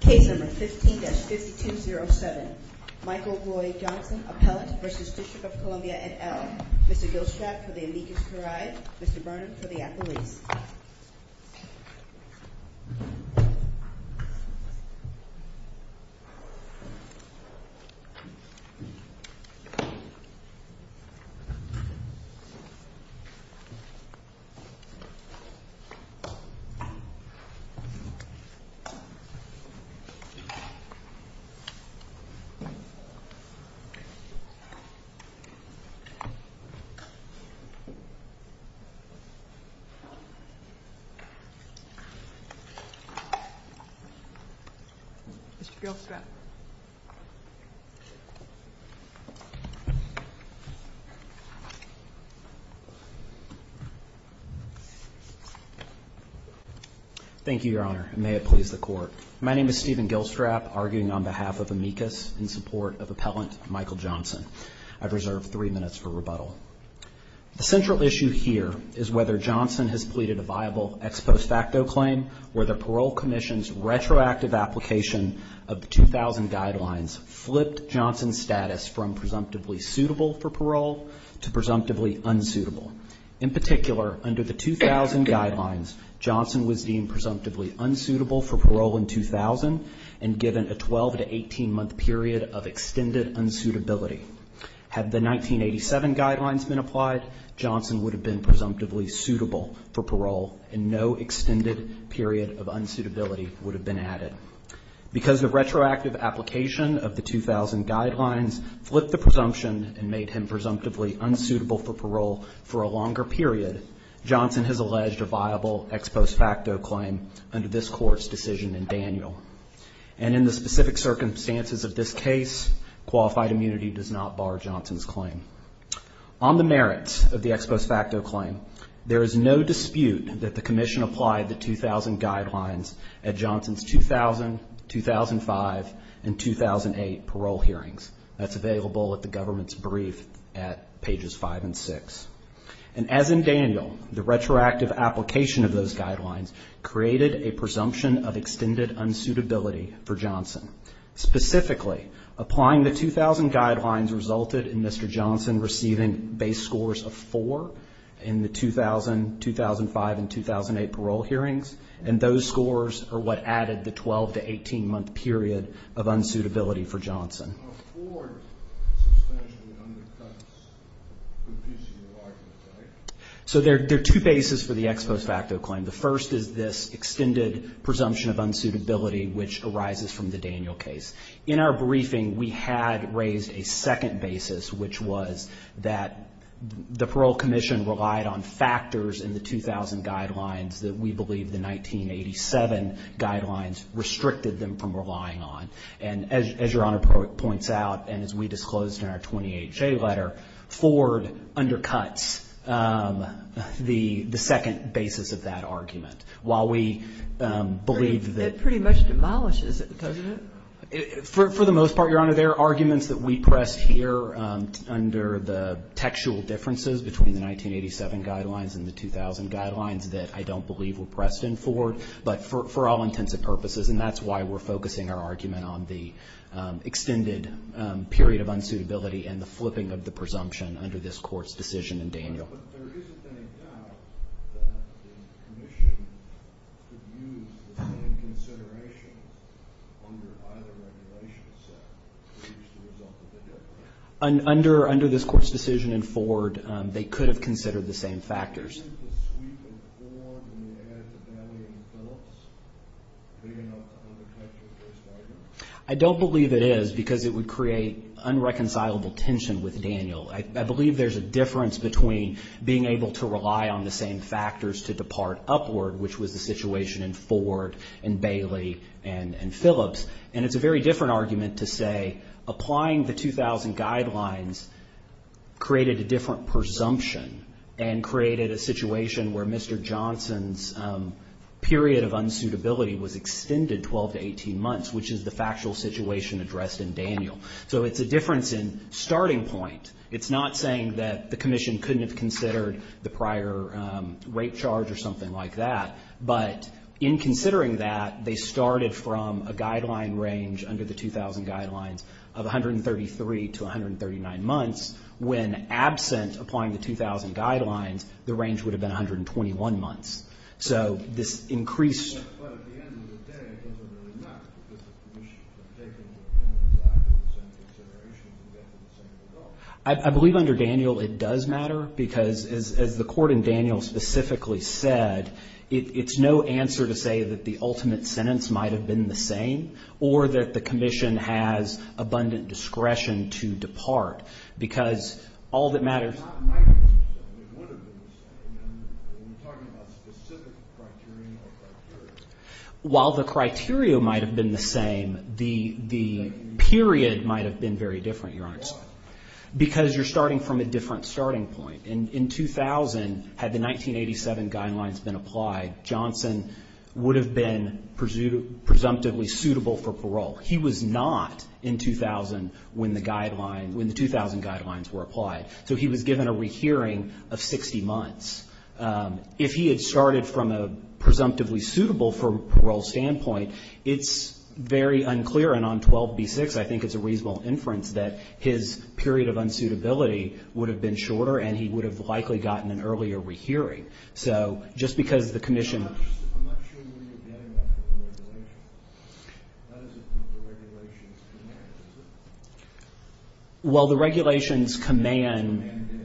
Case number 15-5207. Michael Roy Johnson, Appellant, v. DC, et al. Mr. Gilstrath for the Immigrants' Parade. Mr. Burnham for the Appellees. Mr. Gilstrath. Thank you, Your Honor, and may it please the Court. My name is Stephen Gilstrath, arguing on behalf of Amicus in support of Appellant Michael Johnson. I've reserved three minutes for rebuttal. The central issue here is whether Johnson has pleaded a viable ex post facto claim where the Parole Commission's retroactive application of the 2000 Guidelines flipped Johnson's status from presumptively suitable for parole to presumptively unsuitable. In particular, under the 2000 Guidelines, Johnson was deemed presumptively unsuitable for parole in 2000 and given a 12- to 18-month period of extended unsuitability. Had the 1987 Guidelines been applied, Johnson would have been presumptively suitable for parole and no extended period of unsuitability would have been added. Because the retroactive application of the 2000 Guidelines flipped the presumption and made him presumptively unsuitable for parole for a longer period, Johnson has alleged a viable ex post facto claim under this Court's decision in Daniel. And in the specific circumstances of this case, qualified immunity does not bar Johnson's claim. On the merits of the ex post facto claim, there is no dispute that the Commission applied the 2000 Guidelines at Johnson's 2000, 2005, and 2008 parole hearings. That's available at the government's brief at pages 5 and 6. And as in Daniel, the retroactive application of those Guidelines Specifically, applying the 2000 Guidelines resulted in Mr. Johnson receiving base scores of 4 in the 2000, 2005, and 2008 parole hearings, and those scores are what added the 12- to 18-month period of unsuitability for Johnson. So there are two bases for the ex post facto claim. The first is this extended presumption of unsuitability, which arises from the Daniel case. In our briefing, we had raised a second basis, which was that the Parole Commission relied on factors in the 2000 Guidelines that we believe the 1987 Guidelines restricted them from relying on. And as Your Honor points out, and as we disclosed in our 28-J letter, Ford undercuts the second basis of that argument. While we believe that It pretty much demolishes it, doesn't it? For the most part, Your Honor, there are arguments that we pressed here under the textual differences between the 1987 Guidelines and the 2000 Guidelines that I don't believe were pressed in Ford, but for all intents and purposes, and that's why we're focusing our argument on the extended period of unsuitability and the flipping of the presumption under this Court's decision in Daniel. Under this Court's decision in Ford, they could have considered the same factors. Do you believe the sweep in Ford when they add to Bailey and Phillips, bringing up the undercut to the first argument? where Mr. Johnson's period of unsuitability was extended 12 to 18 months, which is the factual situation addressed in Daniel. So it's a difference in starting point. It's not saying that the Commission couldn't have considered the prior rate charge or something like that, but in considering that, they started from a guideline range under the 2000 Guidelines of 133 to 139 months, when absent applying the 2000 Guidelines, the range would have been 121 months. So this increased I believe under Daniel it does matter, because as the Court in Daniel specifically said, it's no answer to say that the ultimate sentence might have been the same or that the Commission has abundant discretion to depart, because all that matters While the criteria might have been the same, the period might have been very different, Your Honor. Why? Because you're starting from a different starting point. In 2000, had the 1987 Guidelines been applied, Johnson would have been presumptively suitable for parole. He was not in 2000 when the 2000 Guidelines were applied. So he was given a rehearing of 60 months. If he had started from a presumptively suitable for parole standpoint, it's very unclear, and on 12b-6, I think it's a reasonable inference, that his period of unsuitability would have been shorter and he would have likely gotten an earlier rehearing. So just because the Commission Well, the regulations command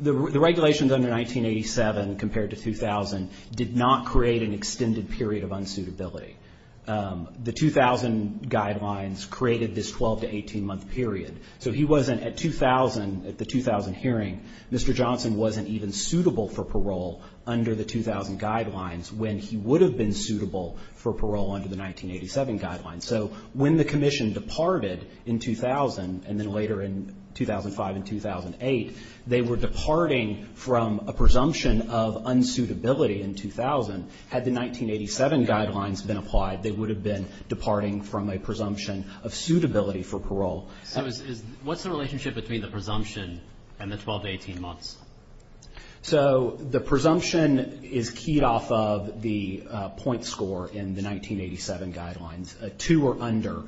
The regulations under 1987 compared to 2000 did not create an extended period of unsuitability. The 2000 Guidelines created this 12- to 18-month period. So he wasn't at 2000, at the 2000 hearing, Mr. Johnson wasn't even suitable for parole under the 2000 Guidelines when he would have been suitable for parole under the 1987 Guidelines. So when the Commission departed in 2000 and then later in 2005 and 2008, they were departing from a presumption of unsuitability in 2000. Had the 1987 Guidelines been applied, they would have been departing from a presumption of suitability for parole. So what's the relationship between the presumption and the 12- to 18-months? So the presumption is keyed off of the point score in the 1987 Guidelines. Two or under,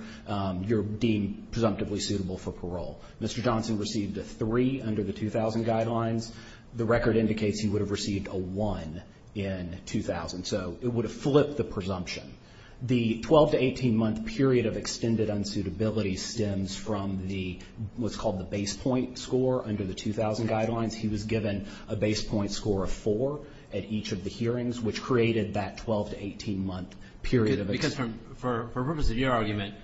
you're deemed presumptively suitable for parole. Mr. Johnson received a three under the 2000 Guidelines. The record indicates he would have received a one in 2000. So it would have flipped the presumption. The 12- to 18-month period of extended unsuitability stems from what's called the base point score under the 2000 Guidelines. He was given a base point score of four at each of the hearings, which created that 12- to 18-month period of For the purpose of your argument,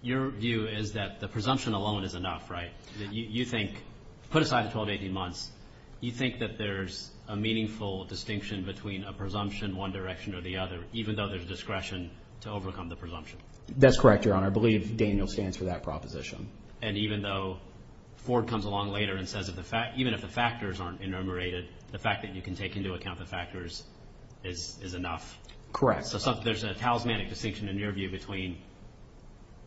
your view is that the presumption alone is enough, right? You think, put aside the 12- to 18-months, you think that there's a meaningful distinction between a presumption, one direction or the other, even though there's discretion to overcome the presumption? That's correct, Your Honor. I believe Daniel stands for that proposition. And even though Ford comes along later and says, even if the factors aren't enumerated, the fact that you can take into account the factors is enough? Correct. So there's a talismanic distinction in your view between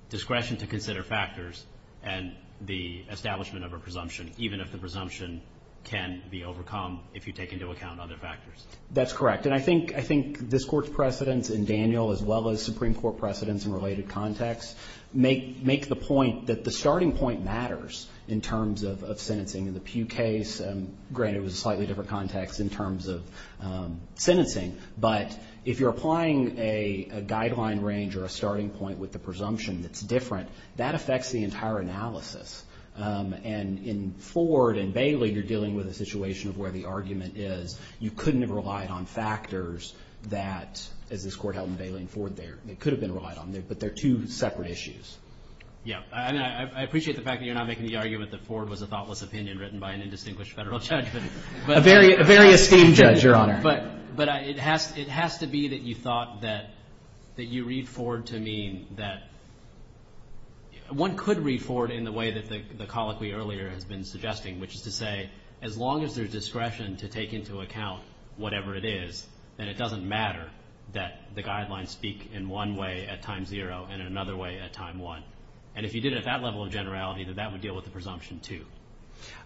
discretion to consider factors and the establishment of a presumption, even if the presumption can be overcome if you take into account other factors? That's correct. And I think this Court's precedents in Daniel as well as Supreme Court precedents in related contexts make the point that the starting point matters in terms of sentencing in the Pew case. Granted, it was a slightly different context in terms of sentencing. But if you're applying a guideline range or a starting point with the presumption that's different, that affects the entire analysis. And in Ford and Bailey, you're dealing with a situation of where the argument is you couldn't have relied on factors that, as this Court held in Bailey and Ford, they could have been relied on, but they're two separate issues. Yeah. I appreciate the fact that you're not making the argument that Ford was a thoughtless opinion written by an indistinguished Federal judge. A very esteemed judge, Your Honor. But it has to be that you thought that you read Ford to mean that one could read Ford in the way that the colloquy earlier has been suggesting, which is to say as long as there's discretion to take into account whatever it is, then it doesn't matter that the guidelines speak in one way at time zero and in another way at time one. And if you did it at that level of generality, then that would deal with the presumption too.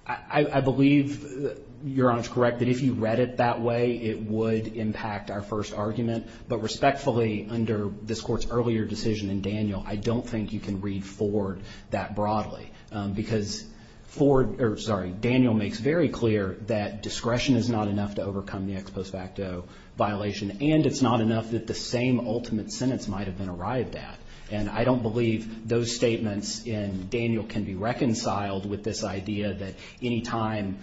I believe, Your Honor, is correct that if you read it that way, it would impact our first argument. But respectfully, under this Court's earlier decision in Daniel, I don't think you can read Ford that broadly. Because Daniel makes very clear that discretion is not enough to overcome the ex post facto violation and it's not enough that the same ultimate sentence might have been arrived at. And I don't believe those statements in Daniel can be reconciled with this idea that any time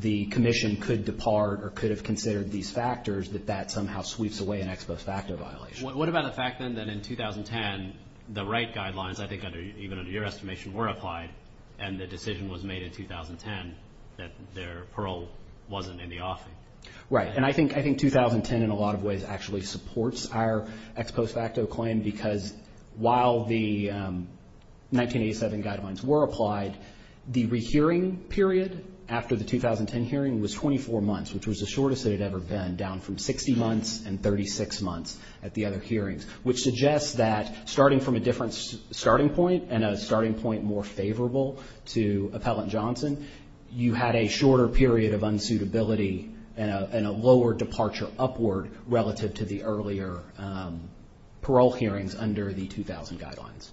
the Commission could depart or could have considered these factors, that that somehow sweeps away an ex post facto violation. What about the fact then that in 2010, the right guidelines, I think even under your estimation, were applied and the decision was made in 2010 that their parole wasn't in the offing? Right, and I think 2010 in a lot of ways actually supports our ex post facto claim because while the 1987 guidelines were applied, the rehearing period after the 2010 hearing was 24 months, which was the shortest it had ever been, down from 60 months and 36 months at the other hearings, which suggests that starting from a different starting point and a starting point more favorable to Appellant Johnson, you had a shorter period of unsuitability and a lower departure upward relative to the earlier parole hearings under the 2000 guidelines.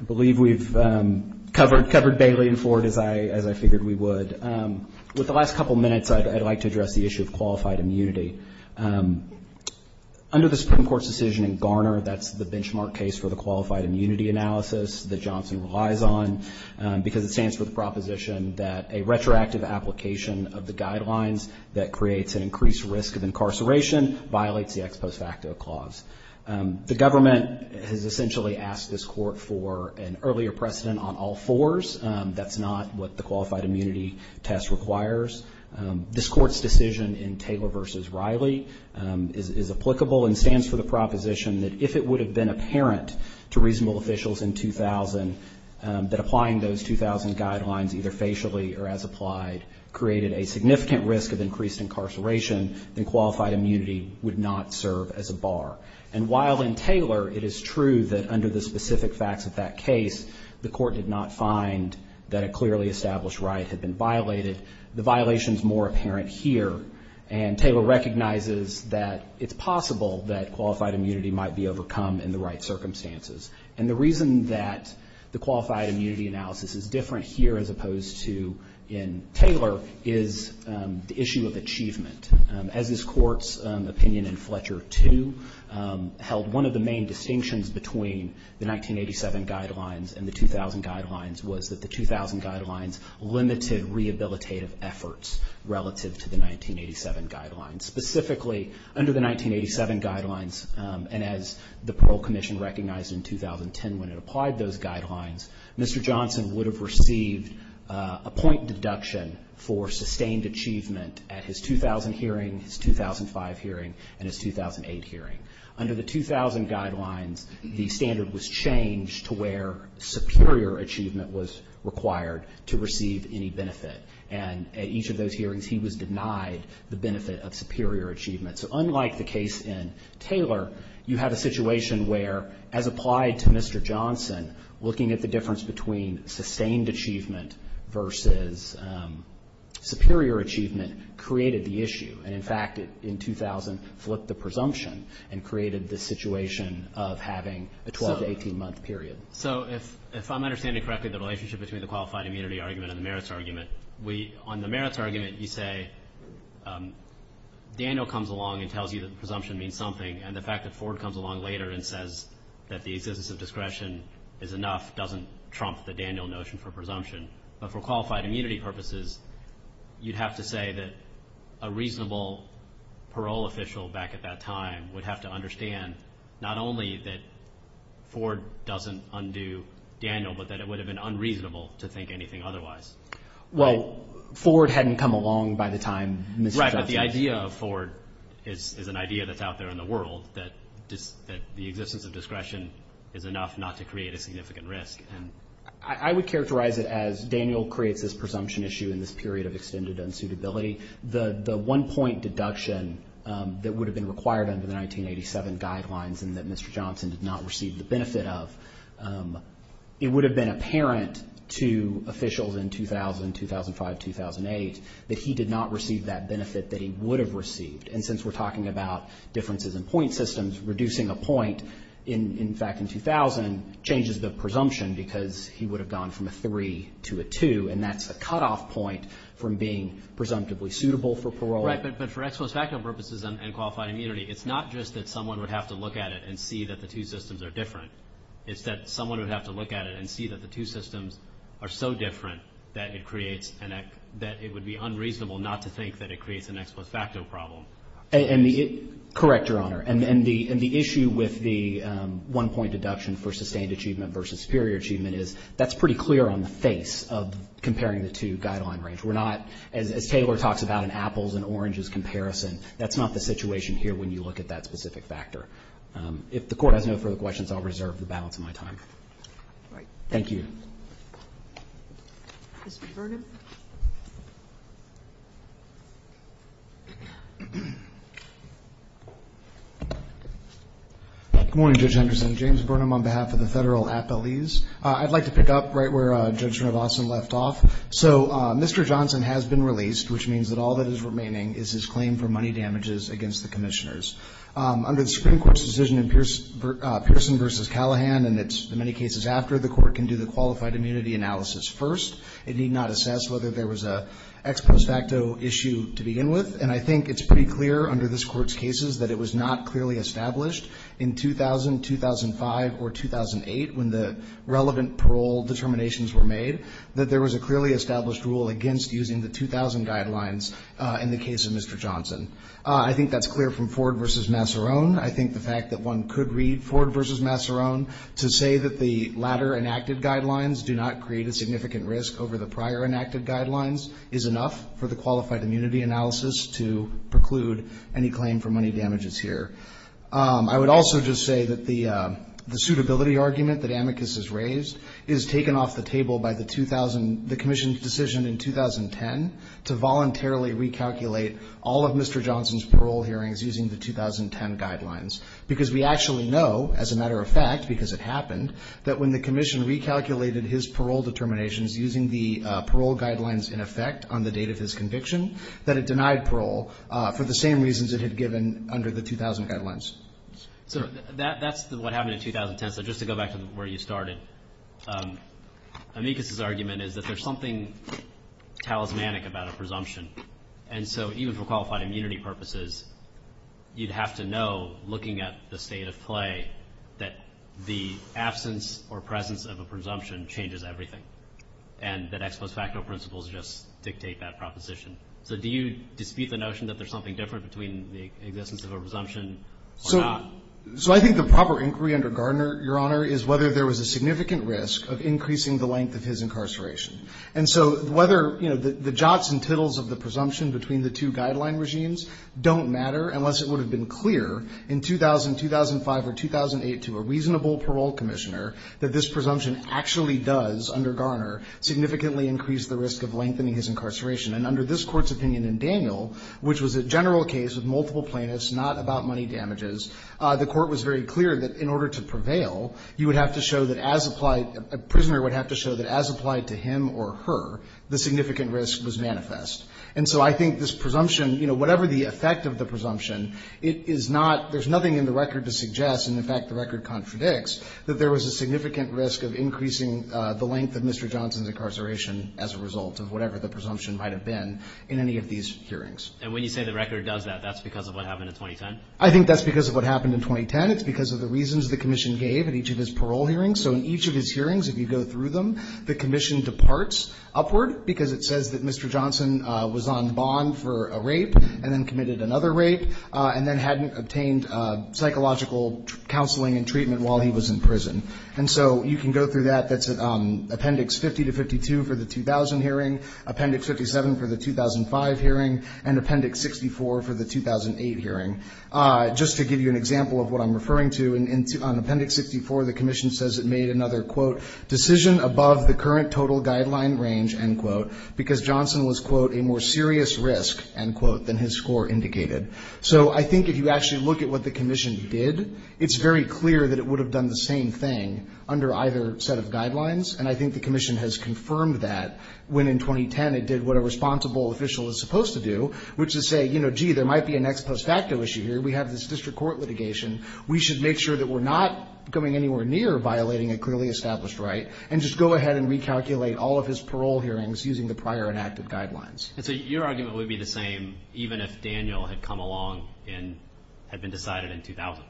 I believe we've covered Bailey and Ford as I figured we would. With the last couple of minutes, I'd like to address the issue of qualified immunity. Under the Supreme Court's decision in Garner, that's the benchmark case for the qualified immunity analysis that Johnson relies on because it stands for the proposition that a retroactive application of the guidelines that creates an increased risk of incarceration violates the ex post facto clause. The government has essentially asked this court for an earlier precedent on all fours. That's not what the qualified immunity test requires. This court's decision in Taylor v. Riley is applicable and stands for the proposition that if it would have been apparent to reasonable officials in 2000, that applying those 2000 guidelines either facially or as applied created a significant risk of increased incarceration, then qualified immunity would not serve as a bar. And while in Taylor it is true that under the specific facts of that case, the court did not find that a clearly established right had been violated, the violation's more apparent here. And Taylor recognizes that it's possible that qualified immunity might be overcome in the right circumstances. And the reason that the qualified immunity analysis is different here as opposed to in Taylor is the issue of achievement. As this court's opinion in Fletcher II held, one of the main distinctions between the 1987 guidelines and the 2000 guidelines was that the 2000 guidelines limited rehabilitative efforts relative to the 1987 guidelines. Specifically, under the 1987 guidelines and as the Parole Commission recognized in 2010 when it applied those guidelines, Mr. Johnson would have received a point deduction for sustained achievement at his 2000 hearing, his 2005 hearing, and his 2008 hearing. Under the 2000 guidelines, the standard was changed to where superior achievement was required to receive any benefit. And at each of those hearings, he was denied the benefit of superior achievement. So unlike the case in Taylor, you have a situation where as applied to Mr. Johnson, looking at the difference between sustained achievement versus superior achievement created the issue. And, in fact, in 2000 flipped the presumption and created the situation of having a 12- to 18-month period. So if I'm understanding correctly, the relationship between the qualified immunity argument and the merits argument, on the merits argument you say Daniel comes along and tells you that the presumption means something, and the fact that Ford comes along later and says that the existence of discretion is enough doesn't trump the Daniel notion for presumption. But for qualified immunity purposes, you'd have to say that a reasonable parole official back at that time would have to understand not only that Ford doesn't undo Daniel, but that it would have been unreasonable to think anything otherwise. Well, Ford hadn't come along by the time Mr. Johnson… Right, but the idea of Ford is an idea that's out there in the world that the existence of discretion is enough not to create a significant risk. I would characterize it as Daniel creates this presumption issue in this period of extended unsuitability. The one-point deduction that would have been required under the 1987 guidelines and that Mr. Johnson did not receive the benefit of, it would have been apparent to officials in 2000, 2005, 2008 that he did not receive that benefit that he would have received. And since we're talking about differences in point systems, reducing a point in fact in 2000 changes the presumption because he would have gone from a 3 to a 2, and that's a cutoff point from being presumptively suitable for parole. Right, but for ex post facto purposes and qualified immunity, it's not just that someone would have to look at it and see that the two systems are different. It's that someone would have to look at it and see that the two systems are so different that it creates an… Correct, Your Honor. And the issue with the one-point deduction for sustained achievement versus superior achievement is that's pretty clear on the face of comparing the two guideline range. We're not, as Taylor talks about in Apples and Oranges comparison, that's not the situation here when you look at that specific factor. If the Court has no further questions, I'll reserve the balance of my time. All right. Thank you. Mr. Bergen. Good morning, Judge Henderson. James Burnham on behalf of the Federal Appellees. I'd like to pick up right where Judge Narvasan left off. So Mr. Johnson has been released, which means that all that is remaining is his claim for money damages against the commissioners. Under the Supreme Court's decision in Pearson v. Callahan, and it's in many cases after, It need not assess whether or not the commissioners whether there was an ex post facto issue to begin with. And I think it's pretty clear under this Court's cases that it was not clearly established in 2000, 2005, or 2008 when the relevant parole determinations were made that there was a clearly established rule against using the 2000 guidelines in the case of Mr. Johnson. I think that's clear from Ford v. Massarone. I think the fact that one could read Ford v. Massarone to say that the latter enacted guidelines do not create a significant risk over the prior enacted guidelines is enough for the qualified immunity analysis to preclude any claim for money damages here. I would also just say that the suitability argument that Amicus has raised is taken off the table by the commission's decision in 2010 to voluntarily recalculate all of Mr. Johnson's parole hearings using the 2010 guidelines. Because we actually know, as a matter of fact, because it happened, that when the commission recalculated his parole determinations using the parole guidelines in effect on the date of his conviction, that it denied parole for the same reasons it had given under the 2000 guidelines. So that's what happened in 2010. So just to go back to where you started, Amicus's argument is that there's something talismanic about a presumption. And so even for qualified immunity purposes, you'd have to know, looking at the state of play, that the absence or presence of a presumption changes everything and that ex post facto principles just dictate that proposition. So do you dispute the notion that there's something different between the existence of a presumption or not? So I think the proper inquiry under Gardner, Your Honor, is whether there was a significant risk of increasing the length of his incarceration. And so whether the jots and tittles of the presumption between the two guideline regimes don't matter, unless it would have been clear in 2000, 2005, or 2008 to a reasonable parole commissioner that this presumption actually does, under Gardner, significantly increase the risk of lengthening his incarceration. And under this Court's opinion in Daniel, which was a general case with multiple plaintiffs, not about money damages, the Court was very clear that in order to prevail, you would have to show that as applied, a prisoner would have to show that as applied to him or her, the significant risk was manifest. And so I think this presumption, you know, whatever the effect of the presumption, it is not – there's nothing in the record to suggest, and in fact the record contradicts, that there was a significant risk of increasing the length of Mr. Johnson's incarceration as a result of whatever the presumption might have been in any of these hearings. And when you say the record does that, that's because of what happened in 2010? I think that's because of what happened in 2010. It's because of the reasons the Commission gave at each of his parole hearings. So in each of his hearings, if you go through them, the Commission departs upward because it says that Mr. Johnson was on bond for a rape and then committed another rape and then hadn't obtained psychological counseling and treatment while he was in prison. And so you can go through that. That's Appendix 50 to 52 for the 2000 hearing, Appendix 57 for the 2005 hearing, and Appendix 64 for the 2008 hearing. Just to give you an example of what I'm referring to, on Appendix 64 the Commission says it made another, quote, decision above the current total guideline range, end quote, because Johnson was, quote, a more serious risk, end quote, than his score indicated. So I think if you actually look at what the Commission did, it's very clear that it would have done the same thing under either set of guidelines. And I think the Commission has confirmed that when in 2010 it did what a responsible official is supposed to do, which is say, you know, gee, there might be a next post facto issue here. We have this district court litigation. We should make sure that we're not going anywhere near violating a clearly established right, and just go ahead and recalculate all of his parole hearings using the prior enacted guidelines. And so your argument would be the same even if Daniel had come along and had been decided in 2000?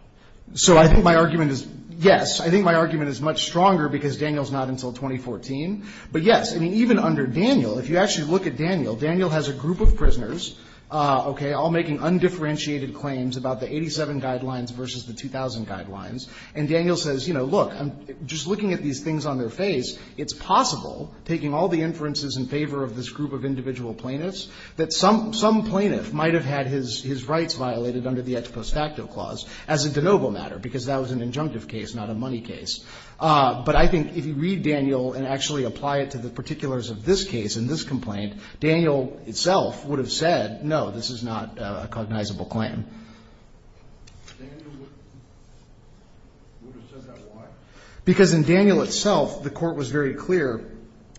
So I think my argument is yes. I think my argument is much stronger because Daniel's not until 2014. But yes, I mean, even under Daniel, if you actually look at Daniel, Daniel has a group of prisoners, okay, all making undifferentiated claims about the 87 guidelines versus the 2000 guidelines. And Daniel says, you know, look, I'm just looking at these things on their face. It's possible, taking all the inferences in favor of this group of individual plaintiffs, that some plaintiff might have had his rights violated under the ex post facto clause as a de novo matter because that was an injunctive case, not a money case. But I think if you read Daniel and actually apply it to the particulars of this case in this complaint, Daniel itself would have said, no, this is not a cognizable claim. Daniel would have said that, why? Because in Daniel itself, the court was very clear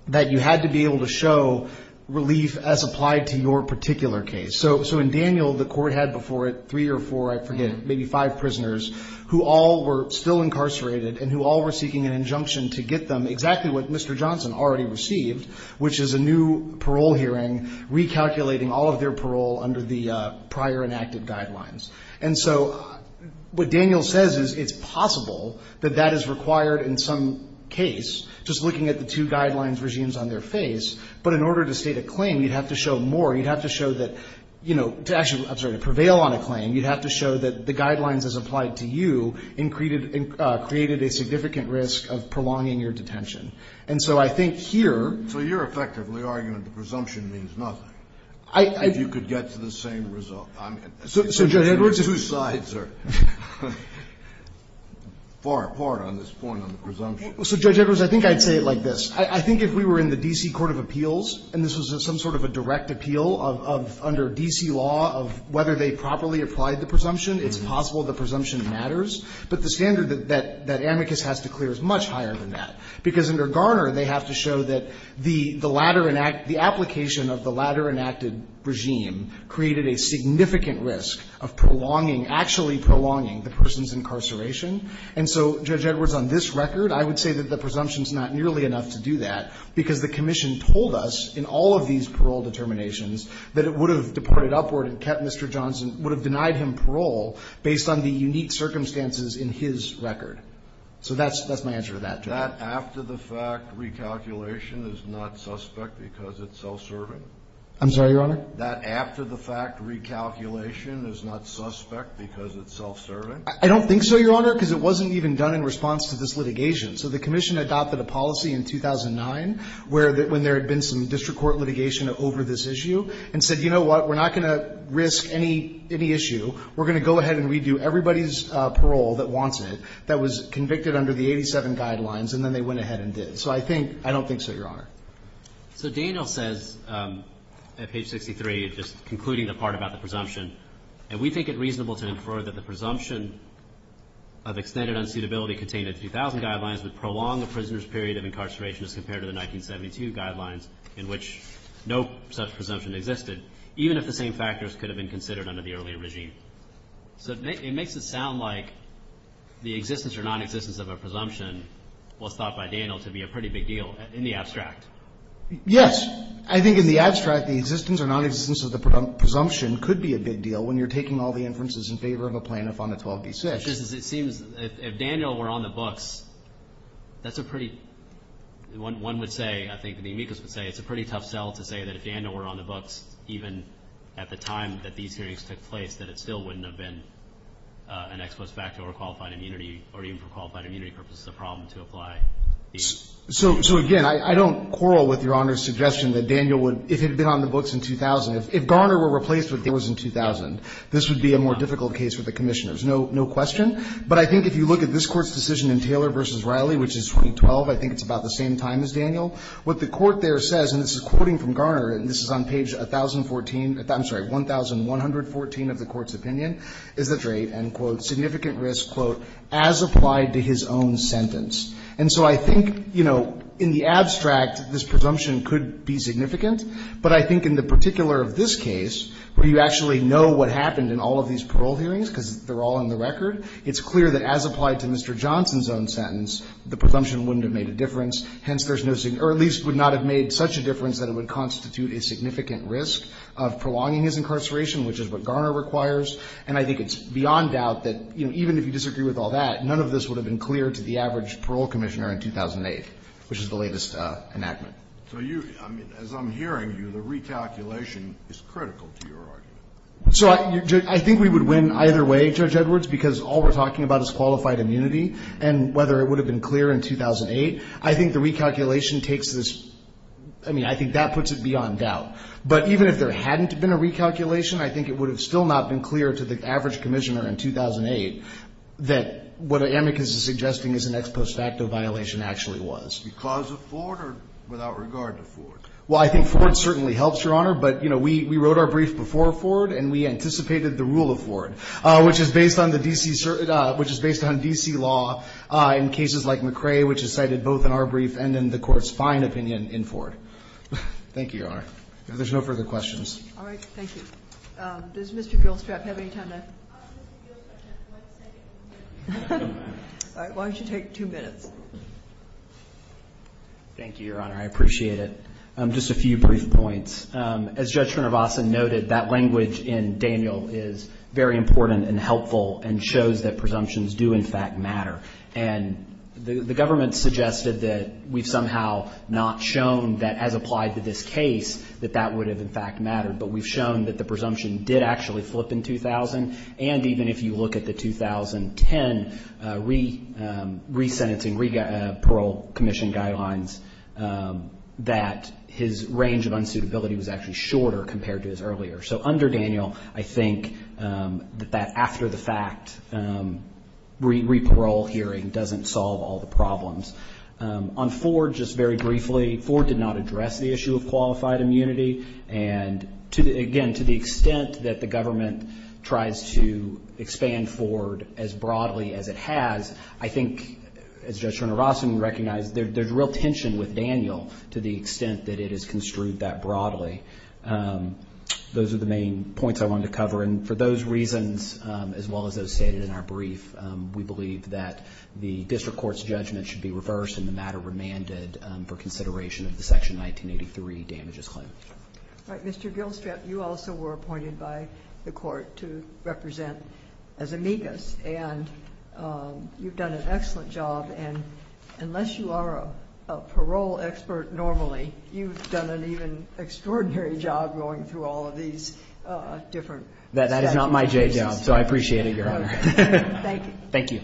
that you had to be able to show relief as applied to your particular case. So in Daniel, the court had before it three or four, I forget, maybe five prisoners who all were still incarcerated and who all were seeking an injunction to get them exactly what Mr. Johnson already received, which is a new parole hearing recalculating all of their parole under the prior enacted guidelines. And so what Daniel says is it's possible that that is required in some case, just looking at the two guidelines regimes on their face, but in order to state a claim, you'd have to show more. You'd have to show that, you know, to actually, I'm sorry, to prevail on a claim, you'd have to show that the guidelines as applied to you created a significant risk of prolonging your detention. And so I think here... So you're effectively arguing that the presumption means nothing. I... If you could get to the same result. I mean... So, Judge Edwards... The two sides are far apart on this point on the presumption. So, Judge Edwards, I think I'd say it like this. I think if we were in the D.C. Court of Appeals and this was some sort of a direct appeal of under D.C. law of whether they properly applied the presumption, it's possible the presumption matters. But the standard that Amicus has to clear is much higher than that, because under Garner they have to show that the application of the latter enacted regime created a significant risk of prolonging, actually prolonging the person's incarceration. And so, Judge Edwards, on this record, I would say that the presumption is not nearly enough to do that, because the Commission told us in all of these parole determinations that it would have deported upward and kept Mr. Johnson, would have denied him parole So that's my answer to that, Judge. That after-the-fact recalculation is not suspect because it's self-serving? I'm sorry, Your Honor? That after-the-fact recalculation is not suspect because it's self-serving? I don't think so, Your Honor, because it wasn't even done in response to this litigation. So the Commission adopted a policy in 2009 where there had been some district court litigation over this issue and said, you know what, we're not going to risk any issue. We're going to go ahead and redo everybody's parole that wants it that was convicted under the 87 guidelines, and then they went ahead and did it. So I think – I don't think so, Your Honor. So Daniel says at page 63, just concluding the part about the presumption, and we think it reasonable to infer that the presumption of extended unsuitability contained in the 2000 guidelines would prolong a prisoner's period of incarceration as compared to the 1972 guidelines in which no such presumption existed, even if the same factors could have been considered under the earlier regime. So it makes it sound like the existence or nonexistence of a presumption was thought by Daniel to be a pretty big deal in the abstract. Yes. I think in the abstract the existence or nonexistence of the presumption could be a big deal when you're taking all the inferences in favor of a plaintiff on a 12b6. It seems if Daniel were on the books, that's a pretty – one would say, I think the amicus would say, even at the time that these hearings took place, that it still wouldn't have been an ex post facto or qualified immunity or even for qualified immunity purposes a problem to apply these. So, again, I don't quarrel with Your Honor's suggestion that Daniel would – if he had been on the books in 2000, if Garner were replaced with Daniels in 2000, this would be a more difficult case for the commissioners. No question. But I think if you look at this Court's decision in Taylor v. Riley, which is week 12, I think it's about the same time as Daniel. What the Court there says, and this is quoting from Garner, and this is on page 1,014 – I'm sorry, 1,114 of the Court's opinion, is the trait, end quote, significant risk, quote, as applied to his own sentence. And so I think, you know, in the abstract, this presumption could be significant. But I think in the particular of this case, where you actually know what happened in all of these parole hearings because they're all in the record, it's clear that as applied to Mr. Johnson's own sentence, the presumption wouldn't have made a difference. Hence, there's no – or at least would not have made such a difference that it would constitute a significant risk of prolonging his incarceration, which is what Garner requires. And I think it's beyond doubt that, you know, even if you disagree with all that, none of this would have been clear to the average parole commissioner in 2008, which is the latest enactment. So you – I mean, as I'm hearing you, the recalculation is critical to your argument. So I think we would win either way, Judge Edwards, because all we're talking about is qualified immunity and whether it would have been clear in 2008. I think the recalculation takes this – I mean, I think that puts it beyond doubt. But even if there hadn't been a recalculation, I think it would have still not been clear to the average commissioner in 2008 that what Amicus is suggesting is an ex post facto violation actually was. Because of Ford or without regard to Ford? Well, I think Ford certainly helps, Your Honor. But, you know, we wrote our brief before Ford, and we anticipated the rule of Ford, which is based on the D.C. – which is based on D.C. law in cases like McRae, which is cited both in our brief and in the Court's fine opinion in Ford. Thank you, Your Honor. If there's no further questions. All right. Thank you. Does Mr. Gilstrap have any time left? Mr. Gilstrap has one second. All right. Why don't you take two minutes? Thank you, Your Honor. I appreciate it. Just a few brief points. As Judge Srinivasan noted, that language in Daniel is very important and helpful and shows that presumptions do, in fact, matter. And the government suggested that we've somehow not shown that, as applied to this case, that that would have, in fact, mattered. But we've shown that the presumption did actually flip in 2000, and even if you look at the 2010 re-sentencing, re-parole commission guidelines, that his range of unsuitability was actually shorter compared to his earlier. So under Daniel, I think that that after-the-fact re-parole hearing doesn't solve all the problems. On Ford, just very briefly, Ford did not address the issue of qualified immunity. And, again, to the extent that the government tries to expand Ford as broadly as it has, I think, as Judge Srinivasan recognized, there's real tension with Daniel to the extent that it is construed that broadly. Those are the main points I wanted to cover. And for those reasons, as well as those stated in our brief, we believe that the district court's judgment should be reversed and the matter remanded for consideration of the Section 1983 damages claim. All right. Mr. Gilstrap, you also were appointed by the court to represent as amicus, and you've done an excellent job. And unless you are a parole expert normally, you've done an even extraordinary job going through all of these different statute cases. That is not my day job, so I appreciate it, Your Honor. Thank you. Thank you.